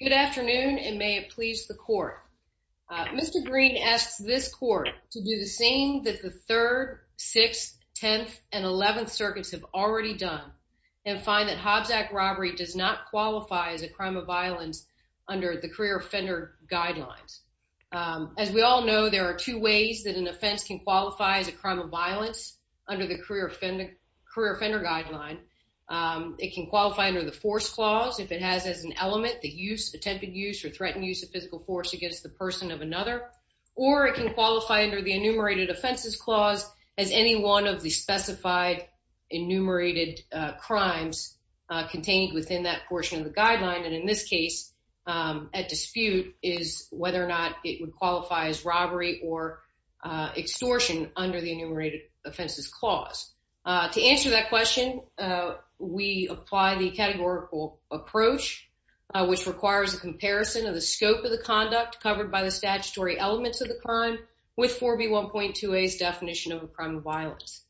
Good afternoon and may it please the court. Mr. Green asks this court to do the same that the 3rd, 6th, 10th, and 11th circuits have already done and find that Hobbs Act robbery does not qualify as a crime of violence under the career offender guidelines. As we all know, there are two ways that an offense can qualify as a crime of violence under the career offender guideline. It can qualify under the force clause if it has as an element the attempted use or threatened use of physical force against the person of another or it can qualify under the enumerated offenses clause as any one of the specified enumerated crimes contained within that portion of the guideline and in this case at dispute is whether or not it would qualify as robbery or extortion under the enumerated offenses clause. To answer that question, we apply the categorical approach which requires a comparison of the scope of the conduct covered by the statutory elements of the crime with 4B1.2a's definition of a crime of violence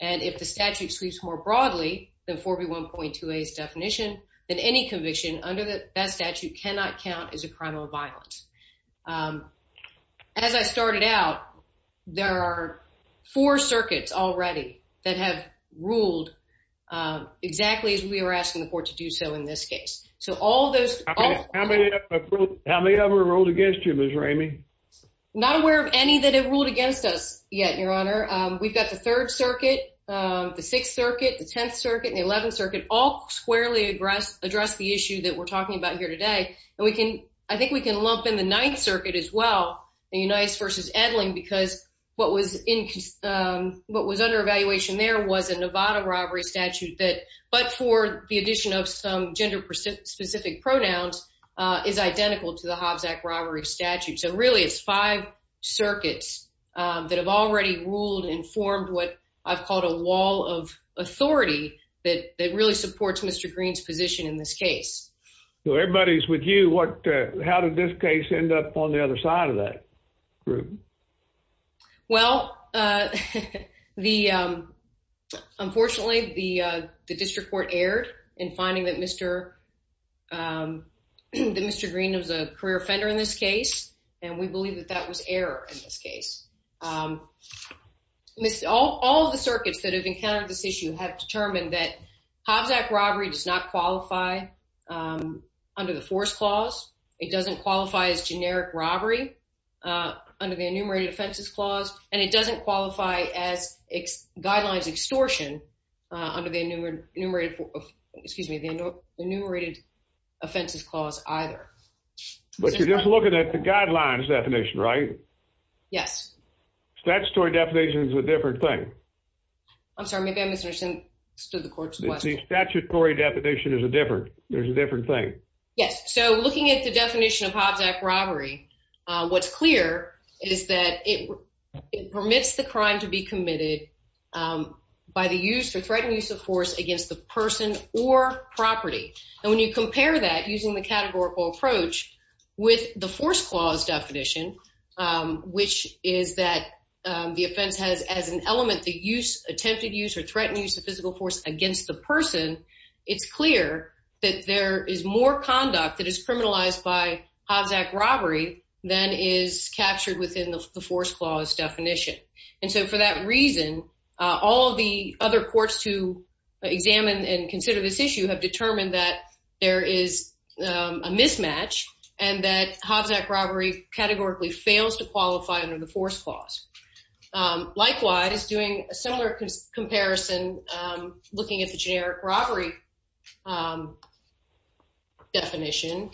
and if the statute sweeps more broadly than 4B1.2a's definition, then any conviction under that statute cannot count as a crime of violence. As I started out, there are four circuits already that have ruled exactly as we were asking the court to do so in this case. So all those... How many have we ruled against you, Ms. Ramey? Not aware of any that have ruled against us yet, your honor. We've got the third circuit, the sixth circuit, the tenth circuit, and the eleventh circuit all squarely address the issue that we're talking about here today and we can... I think we can lump in the ninth circuit as well in Unias versus Edling because what was under evaluation there was a Nevada robbery statute that but for the addition of some gender specific pronouns is identical to the Hobbs Act robbery statute. So really it's five circuits that have already ruled and formed what I've called a wall of authority that really supports Mr. Green's position in this case. So everybody's with you. How did this case end up on the other side of that group? Well, unfortunately the district court erred in finding that Mr. Green was a career offender in this case and we believe that that was error in this case. All the circuits that have encountered this issue have determined that Hobbs Act robbery does not qualify under the force clause. It doesn't qualify as generic robbery under the enumerated offenses clause and it doesn't qualify as guidelines extortion under the enumerated offenses clause either. But you're just looking at the guidelines definition, right? Yes. Statutory definition is a different thing. I'm sorry, maybe I misunderstood the court's question. The statutory definition is a different thing. Yes, so looking at the definition of Hobbs Act robbery, what's clear is that it permits the crime to be committed by the use or threatened use of force against the person or property. And when you compare that using the categorical approach with the force clause definition, which is that the offense has as an element the use attempted use or threatened use of physical force against the person, it's clear that there is more conduct that is criminalized by Hobbs Act robbery than is captured within the force clause definition. And so for that reason, all the other courts to examine and consider this issue have determined that there is a mismatch and that Hobbs Act robbery categorically fails to qualify under the force clause. Likewise, doing a similar comparison looking at the generic robbery definition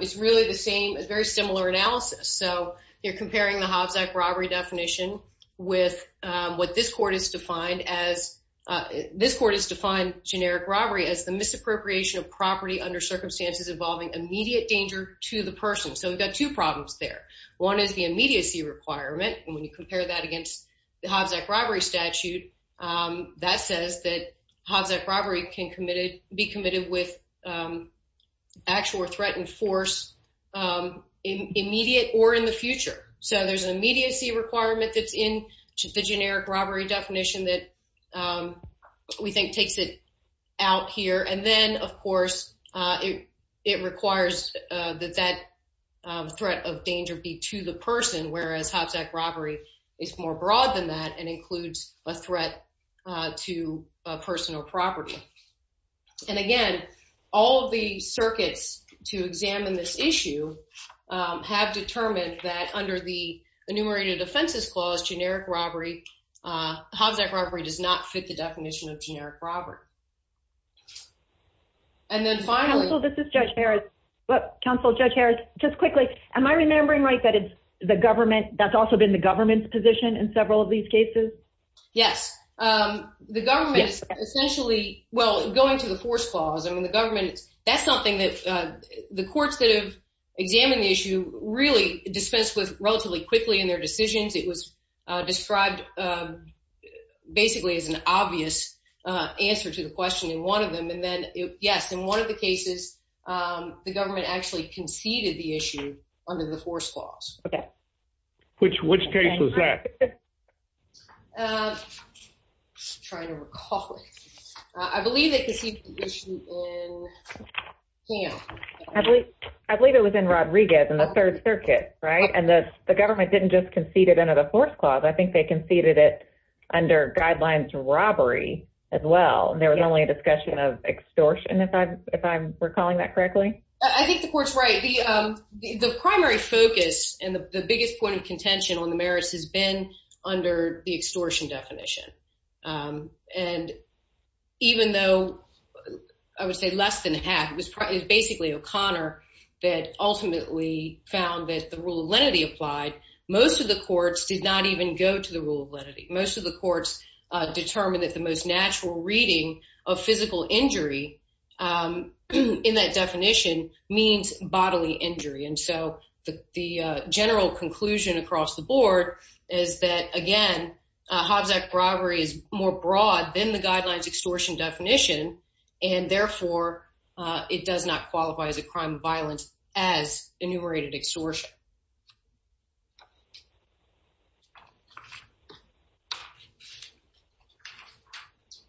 is really the same, a very similar analysis. So you're comparing the Hobbs Act robbery definition with what this court has defined as, this court has defined generic robbery as the misappropriation of property under circumstances involving immediate danger to the person. So we've got two problems there. One is the immediacy requirement, and when you compare that against the Hobbs Act robbery statute, that says that Hobbs Act robbery can be committed with actual or threatened force immediate or in the future. So there's an immediacy requirement that's in the generic robbery definition that we think takes it out here. And then of course, it requires that that threat of danger be to the person, whereas Hobbs Act robbery is more broad than that and includes a threat to personal property. And again, all of the circuits to examine this issue have determined that under the enumerated offenses clause, generic robbery, Hobbs Act robbery does not fit the definition of generic robbery. And then finally... Counsel, this is Judge Harris. Counsel, Judge Harris, just quickly, am I remembering right that it's the government, that's also been the government's position in several of these cases? Yes, the government is essentially, well going to the force clause, I mean the government, that's something that the courts that have examined the issue really dispensed with relatively quickly in their decisions. It was described basically as an obvious answer to the question in one of them. And then yes, in one of the cases, the government actually conceded the issue under the force clause. Okay. Which case was that? I'm trying to recall. I believe they conceded the issue in Ham. I believe it was in Rodriguez in the Third Circuit, right? And the government didn't just concede it under the force clause. I think they conceded it under guidelines robbery as well. There was only a discussion of extortion, if I'm recalling that correctly. I think the court's right. The primary focus and the biggest point of contention on the merits has under the extortion definition. And even though I would say less than half, it was basically O'Connor that ultimately found that the rule of lenity applied, most of the courts did not even go to the rule of lenity. Most of the courts determined that the most natural reading of physical injury in that definition means bodily injury. And so the general conclusion across the board is that again, Hobbs Act robbery is more broad than the guidelines extortion definition, and therefore it does not qualify as a crime of violence as enumerated extortion.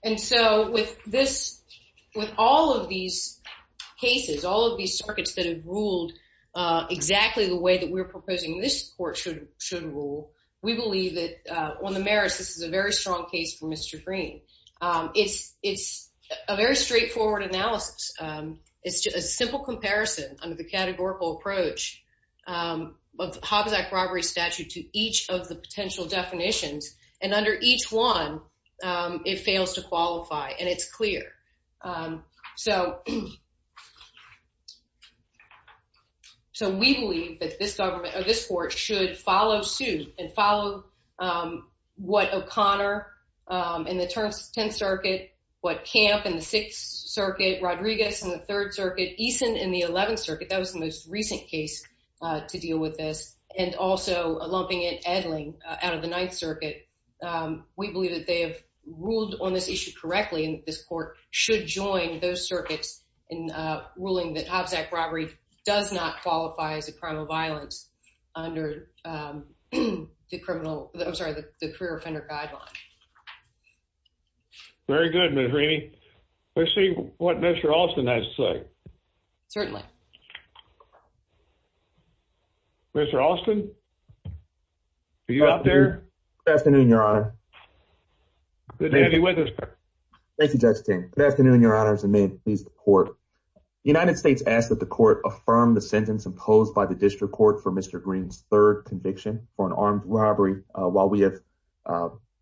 And so with all of these cases, all of these circuits that have ruled exactly the way that we're proposing this court should rule, we believe that on the merits, this is a very strong case for Mr. Green. It's a very straightforward analysis. It's just a simple comparison under the categorical approach of Hobbs Act robbery statute to each of the potential definitions. And under each one, it fails to qualify, and it's clear. So we believe that this court should follow suit and follow what O'Connor in the 10th Circuit, what Camp in the 6th Circuit, Rodriguez in the 3rd Circuit, Eason in the 11th Circuit, that was the most recent case to deal with this, and also a lumping in Edling out of the 9th should join those circuits in ruling that Hobbs Act robbery does not qualify as a crime of violence under the criminal, I'm sorry, the career offender guideline. Very good, Ms. Reaney. Let's see what Mr. Alston has to say. Certainly. Mr. Alston, are you up there? Good afternoon, Your Honor. Good to have you with us. Thank you, Justin. Good afternoon, Your Honors, and may it please the court. The United States asks that the court affirm the sentence imposed by the district court for Mr. Green's third conviction for an armed robbery while we have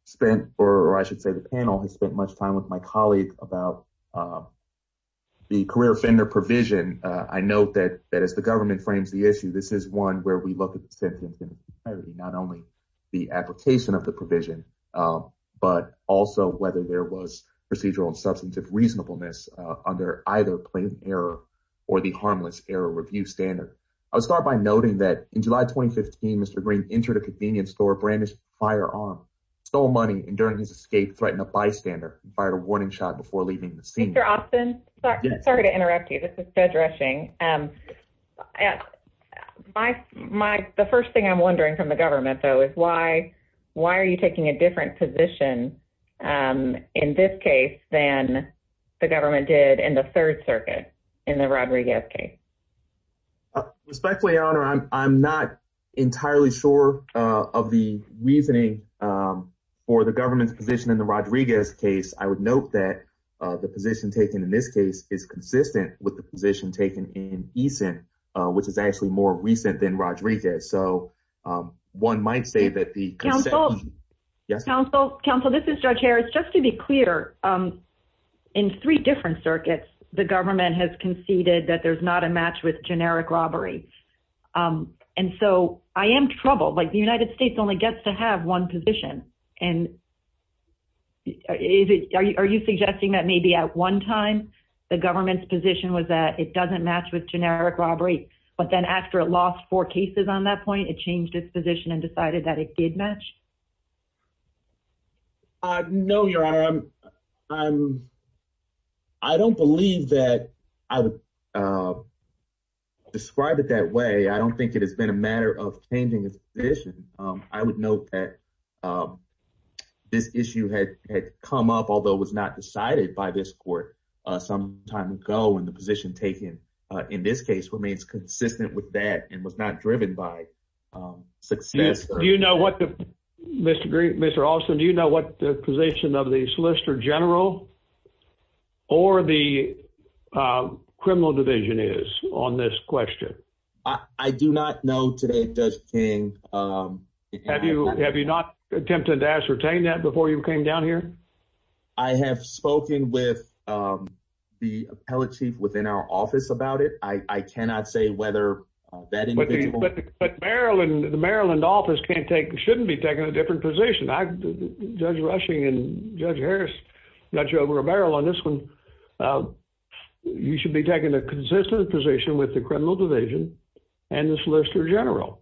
spent, or I should say the panel has spent much time with my colleague about the career offender provision. I note that as the government frames the issue, this is one where we look at the sentence in clarity, not only the application of the provision, but also whether there was procedural and substantive reasonableness under either plain error or the harmless error review standard. I'll start by noting that in July 2015, Mr. Green entered a convenience store, brandished a firearm, stole money, and during his escape threatened a bystander and fired a warning shot before leaving the scene. Mr. Alston, sorry to interrupt you. This is Ted Rushing. The first thing I'm wondering from the government, though, is why are you taking a different position in this case than the government did in the Third Circuit in the Rodriguez case? Respectfully, Your Honor, I'm not entirely sure of the reasoning for the government's position in the Rodriguez case. I would note that the position taken in this case is consistent with the position taken in Eason, which is actually more recent than Rodriguez. One might say that the- Counsel, this is Judge Harris. Just to be clear, in three different circuits, the government has conceded that there's not a match with generic robbery. I am troubled. The United States only gets to have one position. And are you suggesting that maybe at one time the government's position was that it doesn't match with generic robbery, but then after it lost four cases on that point, it changed its position and decided that it did match? No, Your Honor. I don't believe that I would describe it that way. I don't think it has been a matter of changing its position. I would note that this issue had come up, although it was not decided by this court some time ago, and the position taken in this case remains consistent with that and was not driven by success. Do you know what the- Mr. Austin, do you know what the position of the Solicitor General or the Criminal Division is on this question? I do not know today, Judge King. Have you not attempted to ascertain that before you came down here? I have spoken with the appellate chief within our office about it. I cannot say whether that individual- But Maryland, the Maryland office can't take- shouldn't be taking a different position. Judge Rushing and Judge Harris, Judge Romero on this one, you should be taking a consistent position with the Criminal Division and the Solicitor General.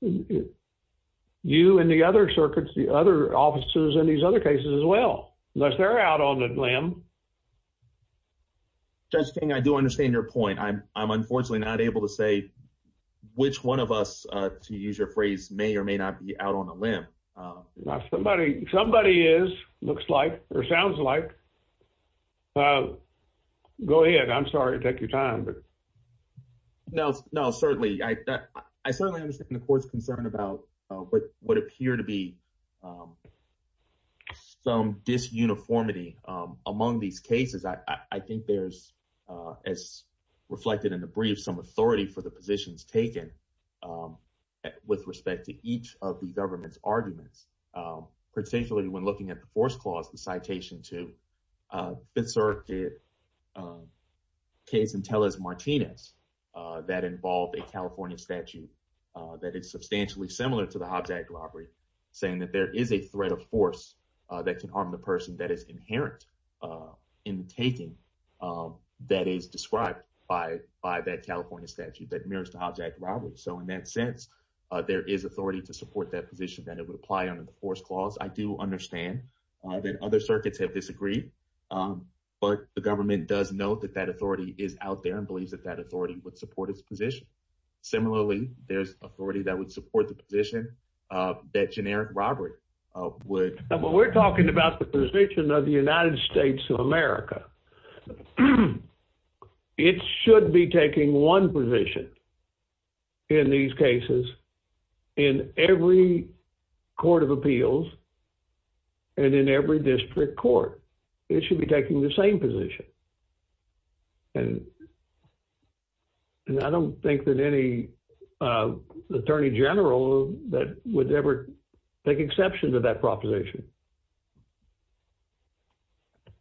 You and the other circuits, the other officers in these other cases as well, unless they're out on a limb. Judge King, I do understand your point. I'm unfortunately not able to say which one of us, to use your phrase, may or may not be out on a limb. Somebody is, looks like, or sounds like. Go ahead. I'm sorry to take your time. No, no, certainly. I certainly understand the court's concern about what would appear to be some disuniformity among these cases. I think there's, as reflected in the brief, some authority for the positions taken with respect to each of the government's arguments, particularly when looking at the force clause, the citation to Fifth Circuit case in Tellez-Martinez that involved a California statute that is substantially similar to the Hobjack robbery, saying that there is a threat of force that can harm the person that is inherent in the taking that is described by that California statute that mirrors the Hobjack robbery. So in that sense, there is authority to support that position that it would apply under the force clause. I do understand that other circuits have disagreed, but the government does note that that authority is out there and believes that that authority would support its position. Similarly, there's authority that would support the position that generic robbery would. We're talking about the position of the United States of America. It should be taking one position in these cases in every court of appeals and in every district court. It should be taking the same position. And I don't think that any attorney general would ever take exception to that proposition.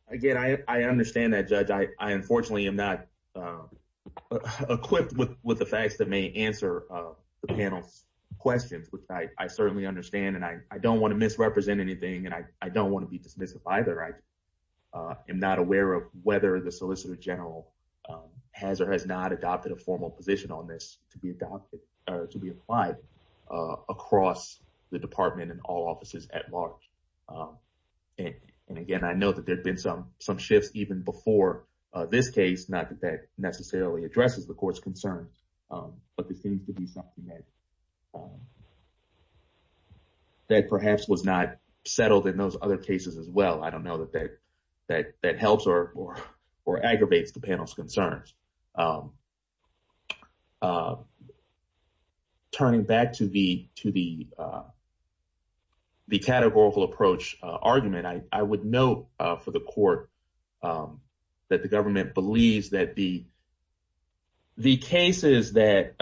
Again, I understand that, Judge. I unfortunately am not equipped with the facts that may answer the panel's questions, which I certainly understand. And I don't want to misrepresent anything, and I don't want to be dismissive either. I am not aware of whether the solicitor general has or has not adopted a formal position on this to be applied across the department and all offices at large. And again, I know that there have been some shifts even before this case, not that that necessarily addresses the court's concerns, but this seems to be something that perhaps was not settled in those other cases as well. I don't know that that the categorical approach argument. I would note for the court that the government believes that the cases that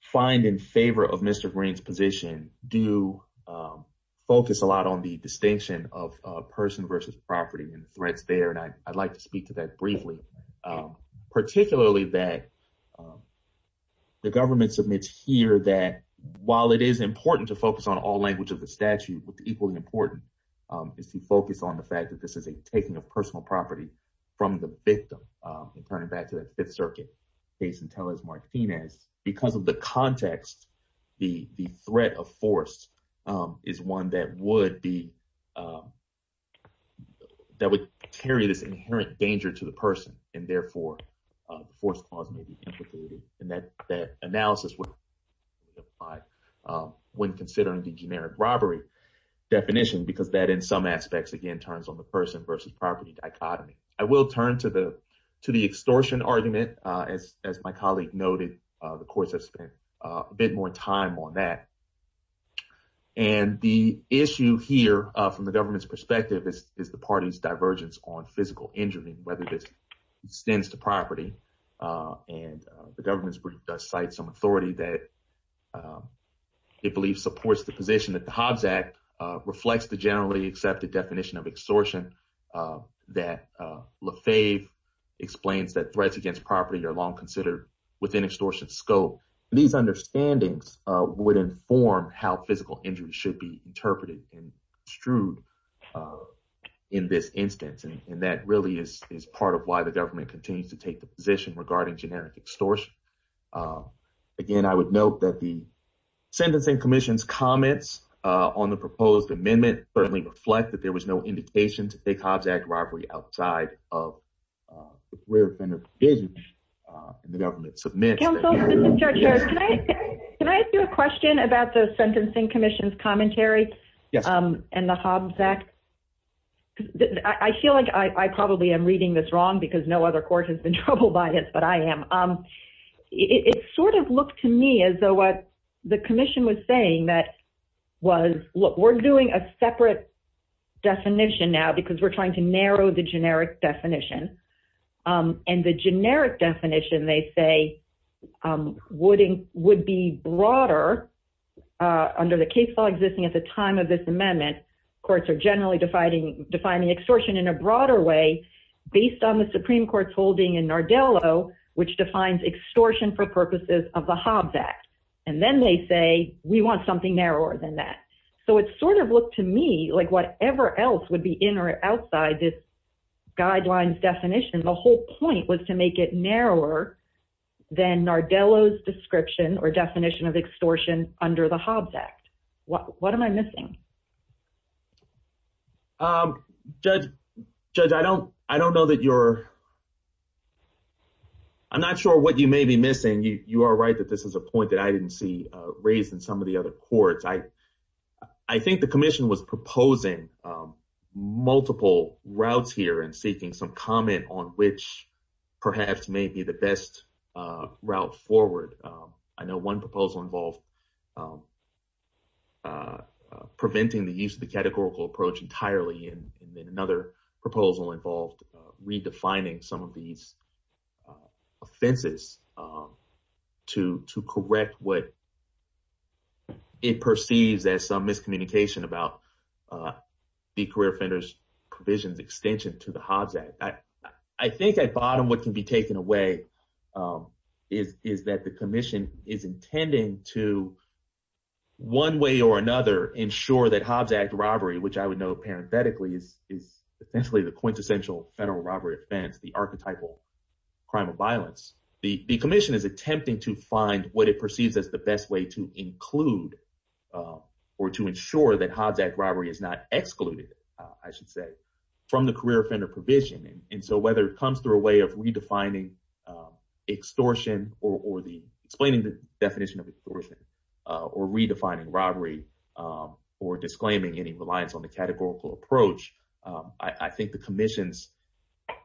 find in favor of Mr. Green's position do focus a lot on the distinction of person versus property and threats there. And I'd like to speak to that briefly, particularly that the government submits here that while it is important to focus on all language of statute, what's equally important is to focus on the fact that this is a taking of personal property from the victim and turn it back to the Fifth Circuit case in Tellez Martinez. Because of the context, the threat of force is one that would be, that would carry this inherent danger to the person, and therefore, the force clause may be definition because that in some aspects, again, turns on the person versus property dichotomy. I will turn to the extortion argument. As my colleague noted, the courts have spent a bit more time on that. And the issue here from the government's perspective is the party's divergence on physical injury, whether this extends to property. And the government's brief does cite some authority that it believes supports the position that the Hobbs Act reflects the generally accepted definition of extortion, that Lefebvre explains that threats against property are long considered within extortion scope. These understandings would inform how physical injury should be interpreted and construed in this instance. And that really is part of why the again, I would note that the Sentencing Commission's comments on the proposed amendment certainly reflect that there was no indication to take Hobbs Act robbery outside of the career defender's vision in the government. Counsel, Mr. Churchill, can I ask you a question about the Sentencing Commission's commentary? Yes. And the Hobbs Act. I feel like I probably am reading this wrong because no other court has trouble by this, but I am. It sort of looked to me as though what the commission was saying that was, look, we're doing a separate definition now because we're trying to narrow the generic definition. And the generic definition, they say, would be broader under the case law existing at the time of this amendment. Courts are generally defining extortion in a broader way based on the Nardello, which defines extortion for purposes of the Hobbs Act. And then they say, we want something narrower than that. So it sort of looked to me like whatever else would be in or outside this guidelines definition, the whole point was to make it narrower than Nardello's description or definition of extortion under the Hobbs Act. What am I missing? Judge, Judge, I don't know that you're, I'm not sure what you may be missing. You are right that this is a point that I didn't see raised in some of the other courts. I think the commission was proposing multiple routes here and seeking some comment on which perhaps may be the best route forward. I know one proposal involved preventing the use of the categorical approach entirely. And then another proposal involved redefining some of these offenses to correct what it perceives as some miscommunication about the career offenders provisions extension to the Hobbs Act. I think at bottom what can be taken away is that the commission is intending to one way or another ensure that Hobbs Act robbery, which I would know parenthetically is essentially the quintessential federal robbery offense, the archetypal crime of violence. The commission is attempting to find what it perceives as the best way to include or to ensure that Hobbs Act robbery is not excluded, I should say, from the career offender provision. And so whether it comes through a way of redefining extortion or explaining the definition of extortion or redefining robbery or disclaiming any reliance on the categorical approach, I think the commission's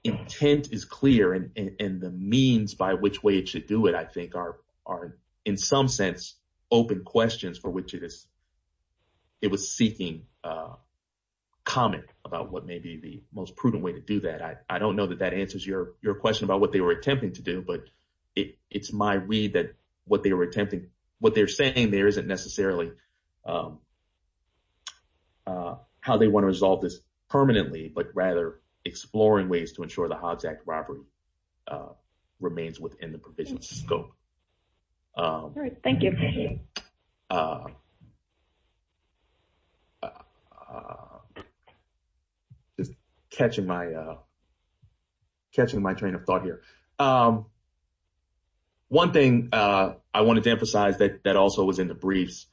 intent is clear and the means by which way it should do it, I think are in some sense open questions for which it was seeking to comment about what may be the most prudent way to do that. I don't know that that answers your question about what they were attempting to do, but it's my read that what they were attempting, what they're saying there isn't necessarily how they want to resolve this permanently, but rather exploring ways to ensure the Hobbs Act robbery remains within the provision's scope. All right, thank you. Just catching my train of thought here. One thing I wanted to emphasize that also was in the briefs,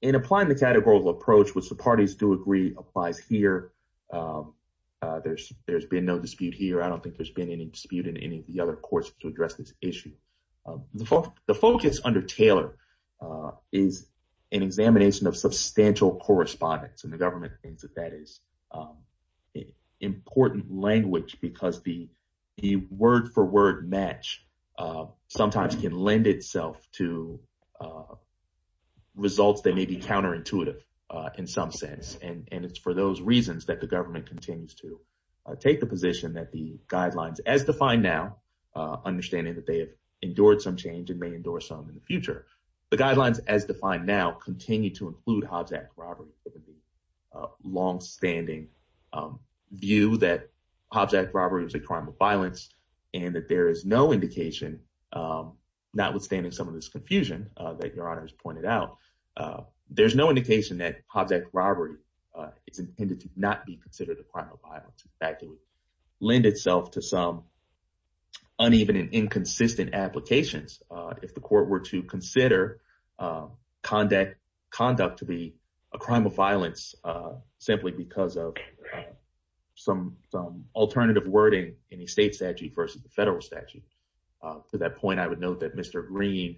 in applying the categorical approach, which the parties do agree applies here, there's been no dispute here. I don't think there's been any dispute in any of the other courts to address this issue. The focus under Taylor is an examination of substantial correspondence and the government thinks that that is important language because the word for word match sometimes can lend itself to results that may be counterintuitive in some sense. It's for those reasons that the government continues to take the position that the guidelines as defined now, understanding that they have endured some change and may endure some in the future, the guidelines as defined now continue to include Hobbs Act robbery for the longstanding view that Hobbs Act robbery is a crime of violence and that there is no indication, notwithstanding some of this confusion that your honor has pointed out, there's no indication that Hobbs Act robbery is intended to not be considered a crime of violence. In fact, it would lend itself to some uneven and inconsistent applications if the court were to consider conduct to be a crime of violence simply because of some alternative wording in the state statute versus the federal statute. To that point, I would note that Mr. Green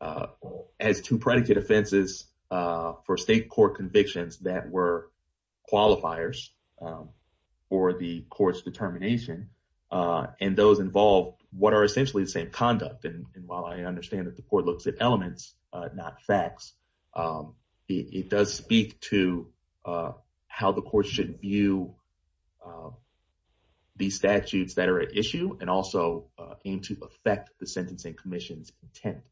has two offenses for state court convictions that were qualifiers for the court's determination and those involved what are essentially the same conduct and while I understand that the court looks at elements, not facts, it does speak to how the court should view the statutes that are at issue and also aim to affect the sentencing commission's intent.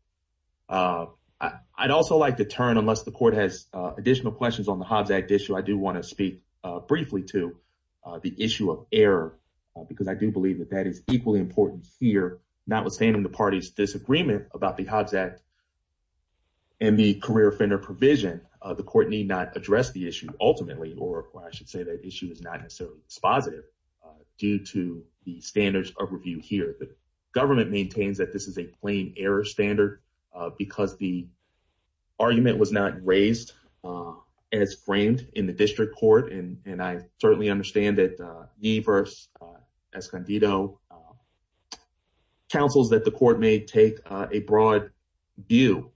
I'd also like to turn, unless the court has additional questions on the Hobbs Act issue, I do want to speak briefly to the issue of error because I do believe that that is equally important here, notwithstanding the party's disagreement about the Hobbs Act and the career offender provision, the court need not address the issue ultimately or I should say that issue is not necessarily dispositive due to the standards of review here. The government maintains that this is a plain error standard because the argument was not raised as framed in the district court and I certainly understand that Nieve versus Escondido counsels that the court may take a broad view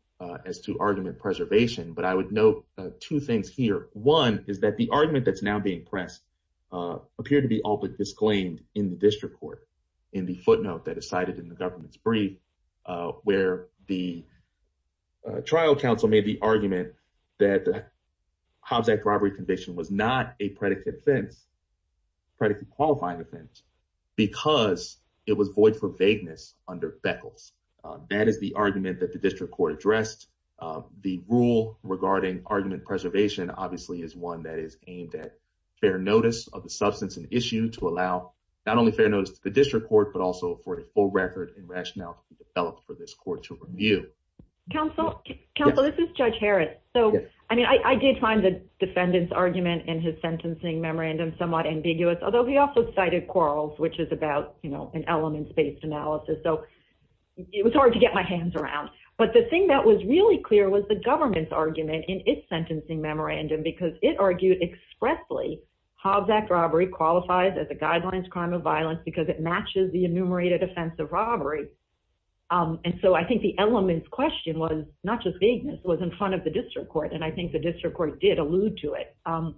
as to argument preservation, but I would note two things here. One is that the argument that's now being pressed appeared to be openly disclaimed in the district court in the footnote that is cited in the government's brief where the trial counsel made the argument that the Hobbs Act robbery conviction was not a predicate offense, predicate qualifying offense, because it was void for vagueness under Beckles. That is the argument that the district court addressed. The rule regarding argument preservation obviously is one that is aimed at fair notice of the substance and issue to allow not only fair notice to the district court, but also for a full record and rationale to be developed for this court to review. Counsel, this is Judge Harris. So, I mean, I did find the defendant's argument in his sentencing memorandum somewhat ambiguous, although he also cited quarrels, which is about, you know, an elements-based analysis. So, it was hard to get my hands around, but the thing that was really clear was the government's in its sentencing memorandum, because it argued expressly Hobbs Act robbery qualifies as a guidelines crime of violence because it matches the enumerated offense of robbery. And so, I think the element's question was not just vagueness, it was in front of the district court, and I think the district court did allude to it. And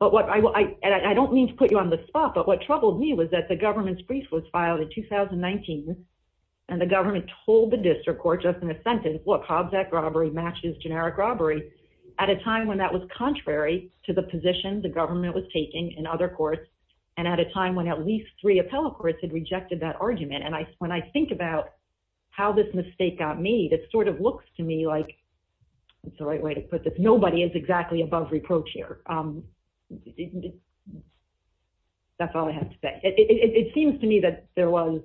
I don't mean to put you on the spot, but what troubled me was that the government's brief was filed in 2019, and the government told the district court just in a sentence, look, Hobbs Act robbery matches generic robbery, at a time when that was contrary to the position the government was taking in other courts, and at a time when at least three appellate courts had rejected that argument. And when I think about how this mistake got made, it sort of looks to me like, that's the right way to put this, nobody is exactly above reproach here. That's all I have to say. It seems to me that there was,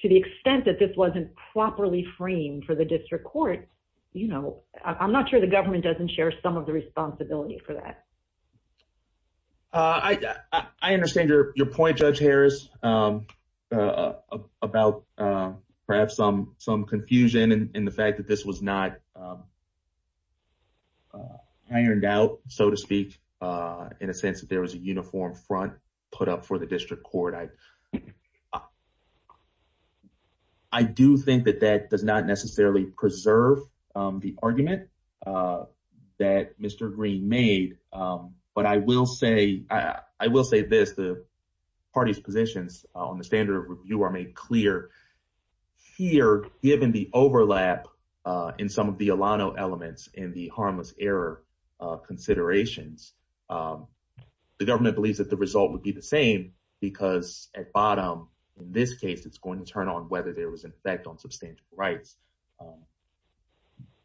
to the extent that this wasn't properly framed for the district court, I'm not sure the government doesn't share some of the responsibility for that. I understand your point, Judge Harris, about perhaps some confusion in the fact that this was not ironed out, so to speak, in a sense that there was a uniform front put up for the district court. I do think that that does not necessarily preserve the argument that Mr. Green made, but I will say this, the party's positions on the standard of review are made clear here, given the overlap in some of the Alano elements in the harmless error considerations. The government believes that the result would be the same, because at bottom, in this case, it's going to turn on whether there was an effect on substantive rights.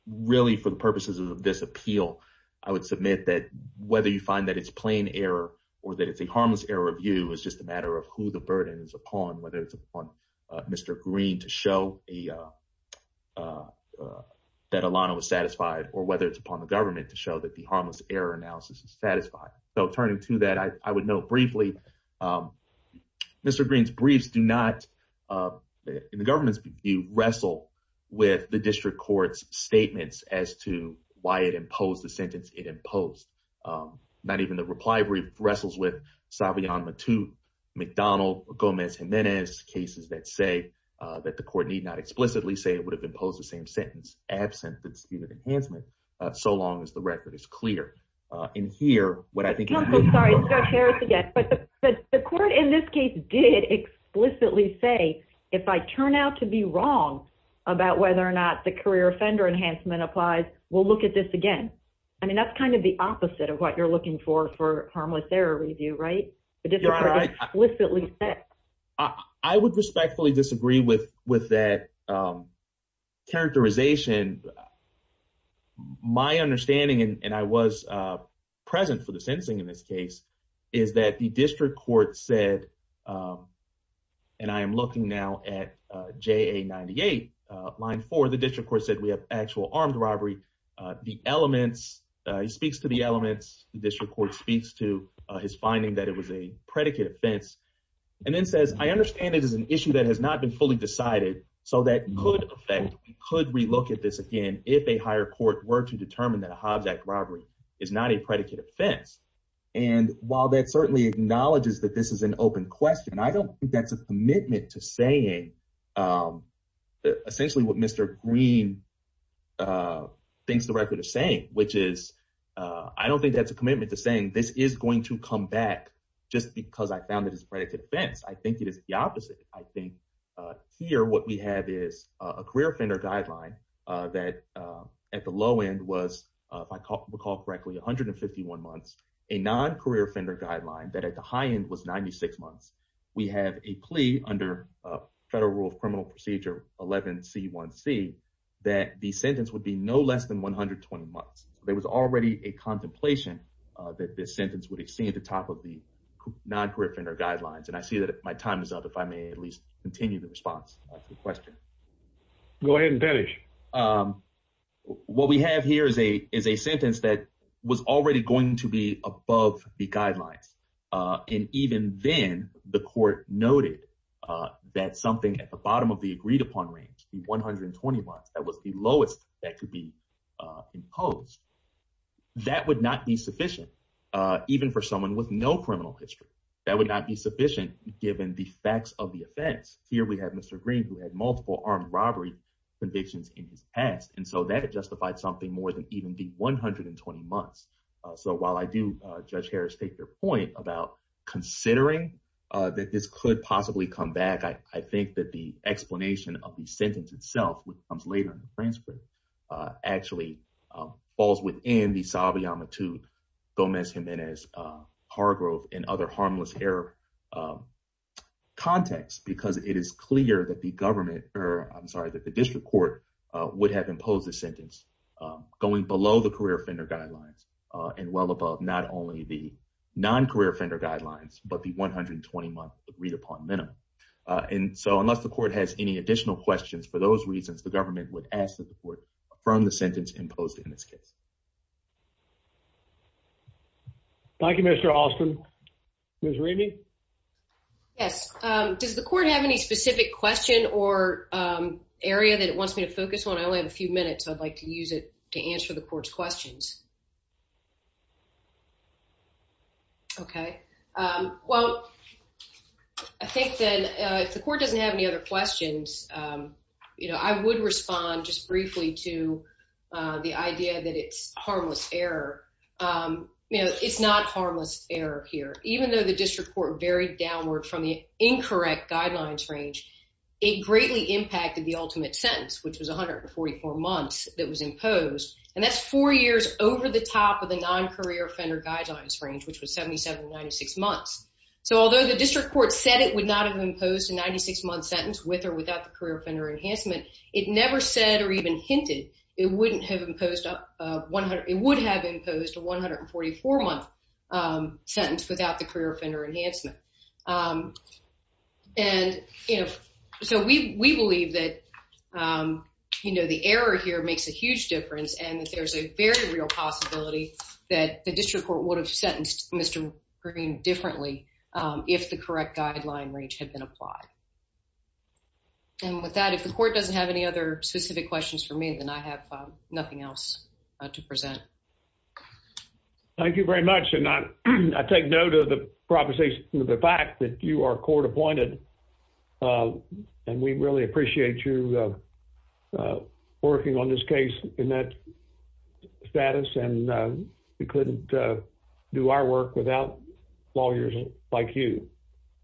Really, for the purposes of this appeal, I would submit that whether you find that it's plain error or that it's a harmless error review is just a matter of who the burden is upon, whether it's upon Mr. Green to show that Alano was satisfied, or whether it's upon the government to show that harmless error analysis is satisfied. Turning to that, I would note briefly, Mr. Green's briefs do not, in the government's view, wrestle with the district court's statements as to why it imposed the sentence it imposed. Not even the reply brief wrestles with Savion Matute, McDonald, Gomez-Jimenez, cases that say that the court need not explicitly say it would have imposed the same sentence, absent the statement of enhancement, so long as the record is clear. In here, what I think- No, no, sorry. Let's go to Harris again. But the court, in this case, did explicitly say, if I turn out to be wrong about whether or not the career offender enhancement applies, we'll look at this again. I mean, that's kind of the opposite of what you're looking for, for harmless error review, right? The district court explicitly said. I would respectfully disagree with that characterization. My understanding, and I was present for the sentencing in this case, is that the district court said, and I am looking now at JA 98, line four, the district court said we have actual armed robbery. The elements, he speaks to the elements, the district court speaks to his finding that it was a predicate offense, and then says, I understand it is an issue that has not been fully decided, so that could affect, we could relook at this again, if a higher court were to determine that a Hobbs Act robbery is not a predicate offense. And while that certainly acknowledges that this is an open question, I don't think that's a commitment to saying essentially what Mr. Green thinks the record is saying, which is, I don't think that's a just because I found that it's a predicate offense. I think it is the opposite. I think here what we have is a career offender guideline that at the low end was, if I recall correctly, 151 months, a non-career offender guideline that at the high end was 96 months. We have a plea under federal rule of criminal procedure 11C1C that the sentence would be no less than 120 months. There was already a contemplation that this sentence would exceed the top of the non-career offender guidelines. And I see that my time is up, if I may at least continue the response to the question. Go ahead and finish. What we have here is a sentence that was already going to be above the guidelines. And even then the court noted that something at the bottom of imposed. That would not be sufficient, even for someone with no criminal history, that would not be sufficient given the facts of the offense. Here we have Mr. Green who had multiple armed robbery convictions in his past. And so that had justified something more than even the 120 months. So while I do, Judge Harris, take your point about considering that this could possibly come back, I think that the explanation of the sentence itself, which comes later in the actually falls within the Salve Amitud Gomez Jimenez Hargrove and other harmless error context, because it is clear that the government or I'm sorry, that the district court would have imposed a sentence going below the career offender guidelines and well above not only the non-career offender guidelines, but the 120 month read upon minimum. And so unless the court has any sentence imposed in this case. Thank you, Mr. Alston. Ms. Remy. Yes. Does the court have any specific question or area that it wants me to focus on? I only have a few minutes. I'd like to use it to answer the court's questions. Okay. Well, I think that if the court doesn't have any questions, I would respond just briefly to the idea that it's harmless error. It's not harmless error here, even though the district court varied downward from the incorrect guidelines range, it greatly impacted the ultimate sentence, which was 144 months that was imposed. And that's four years over the top of the non-career offender guidelines range, which was 77 to 96 months. So although the district court said it would not have imposed a 96 month sentence with or without the career offender enhancement, it never said or even hinted it wouldn't have imposed up 100, it would have imposed a 144 month sentence without the career offender enhancement. And, you know, so we, we believe that, you know, the error here makes a huge difference and that there's a very real possibility that the district court would have sentenced Mr. Green differently if the correct guideline range had been applied. And with that, if the court doesn't have any other specific questions for me, then I have nothing else to present. Thank you very much. And I take note of the proposition of the fact that you are court appointed and we really appreciate you working on this case in that status. And we couldn't do our work without lawyers like you.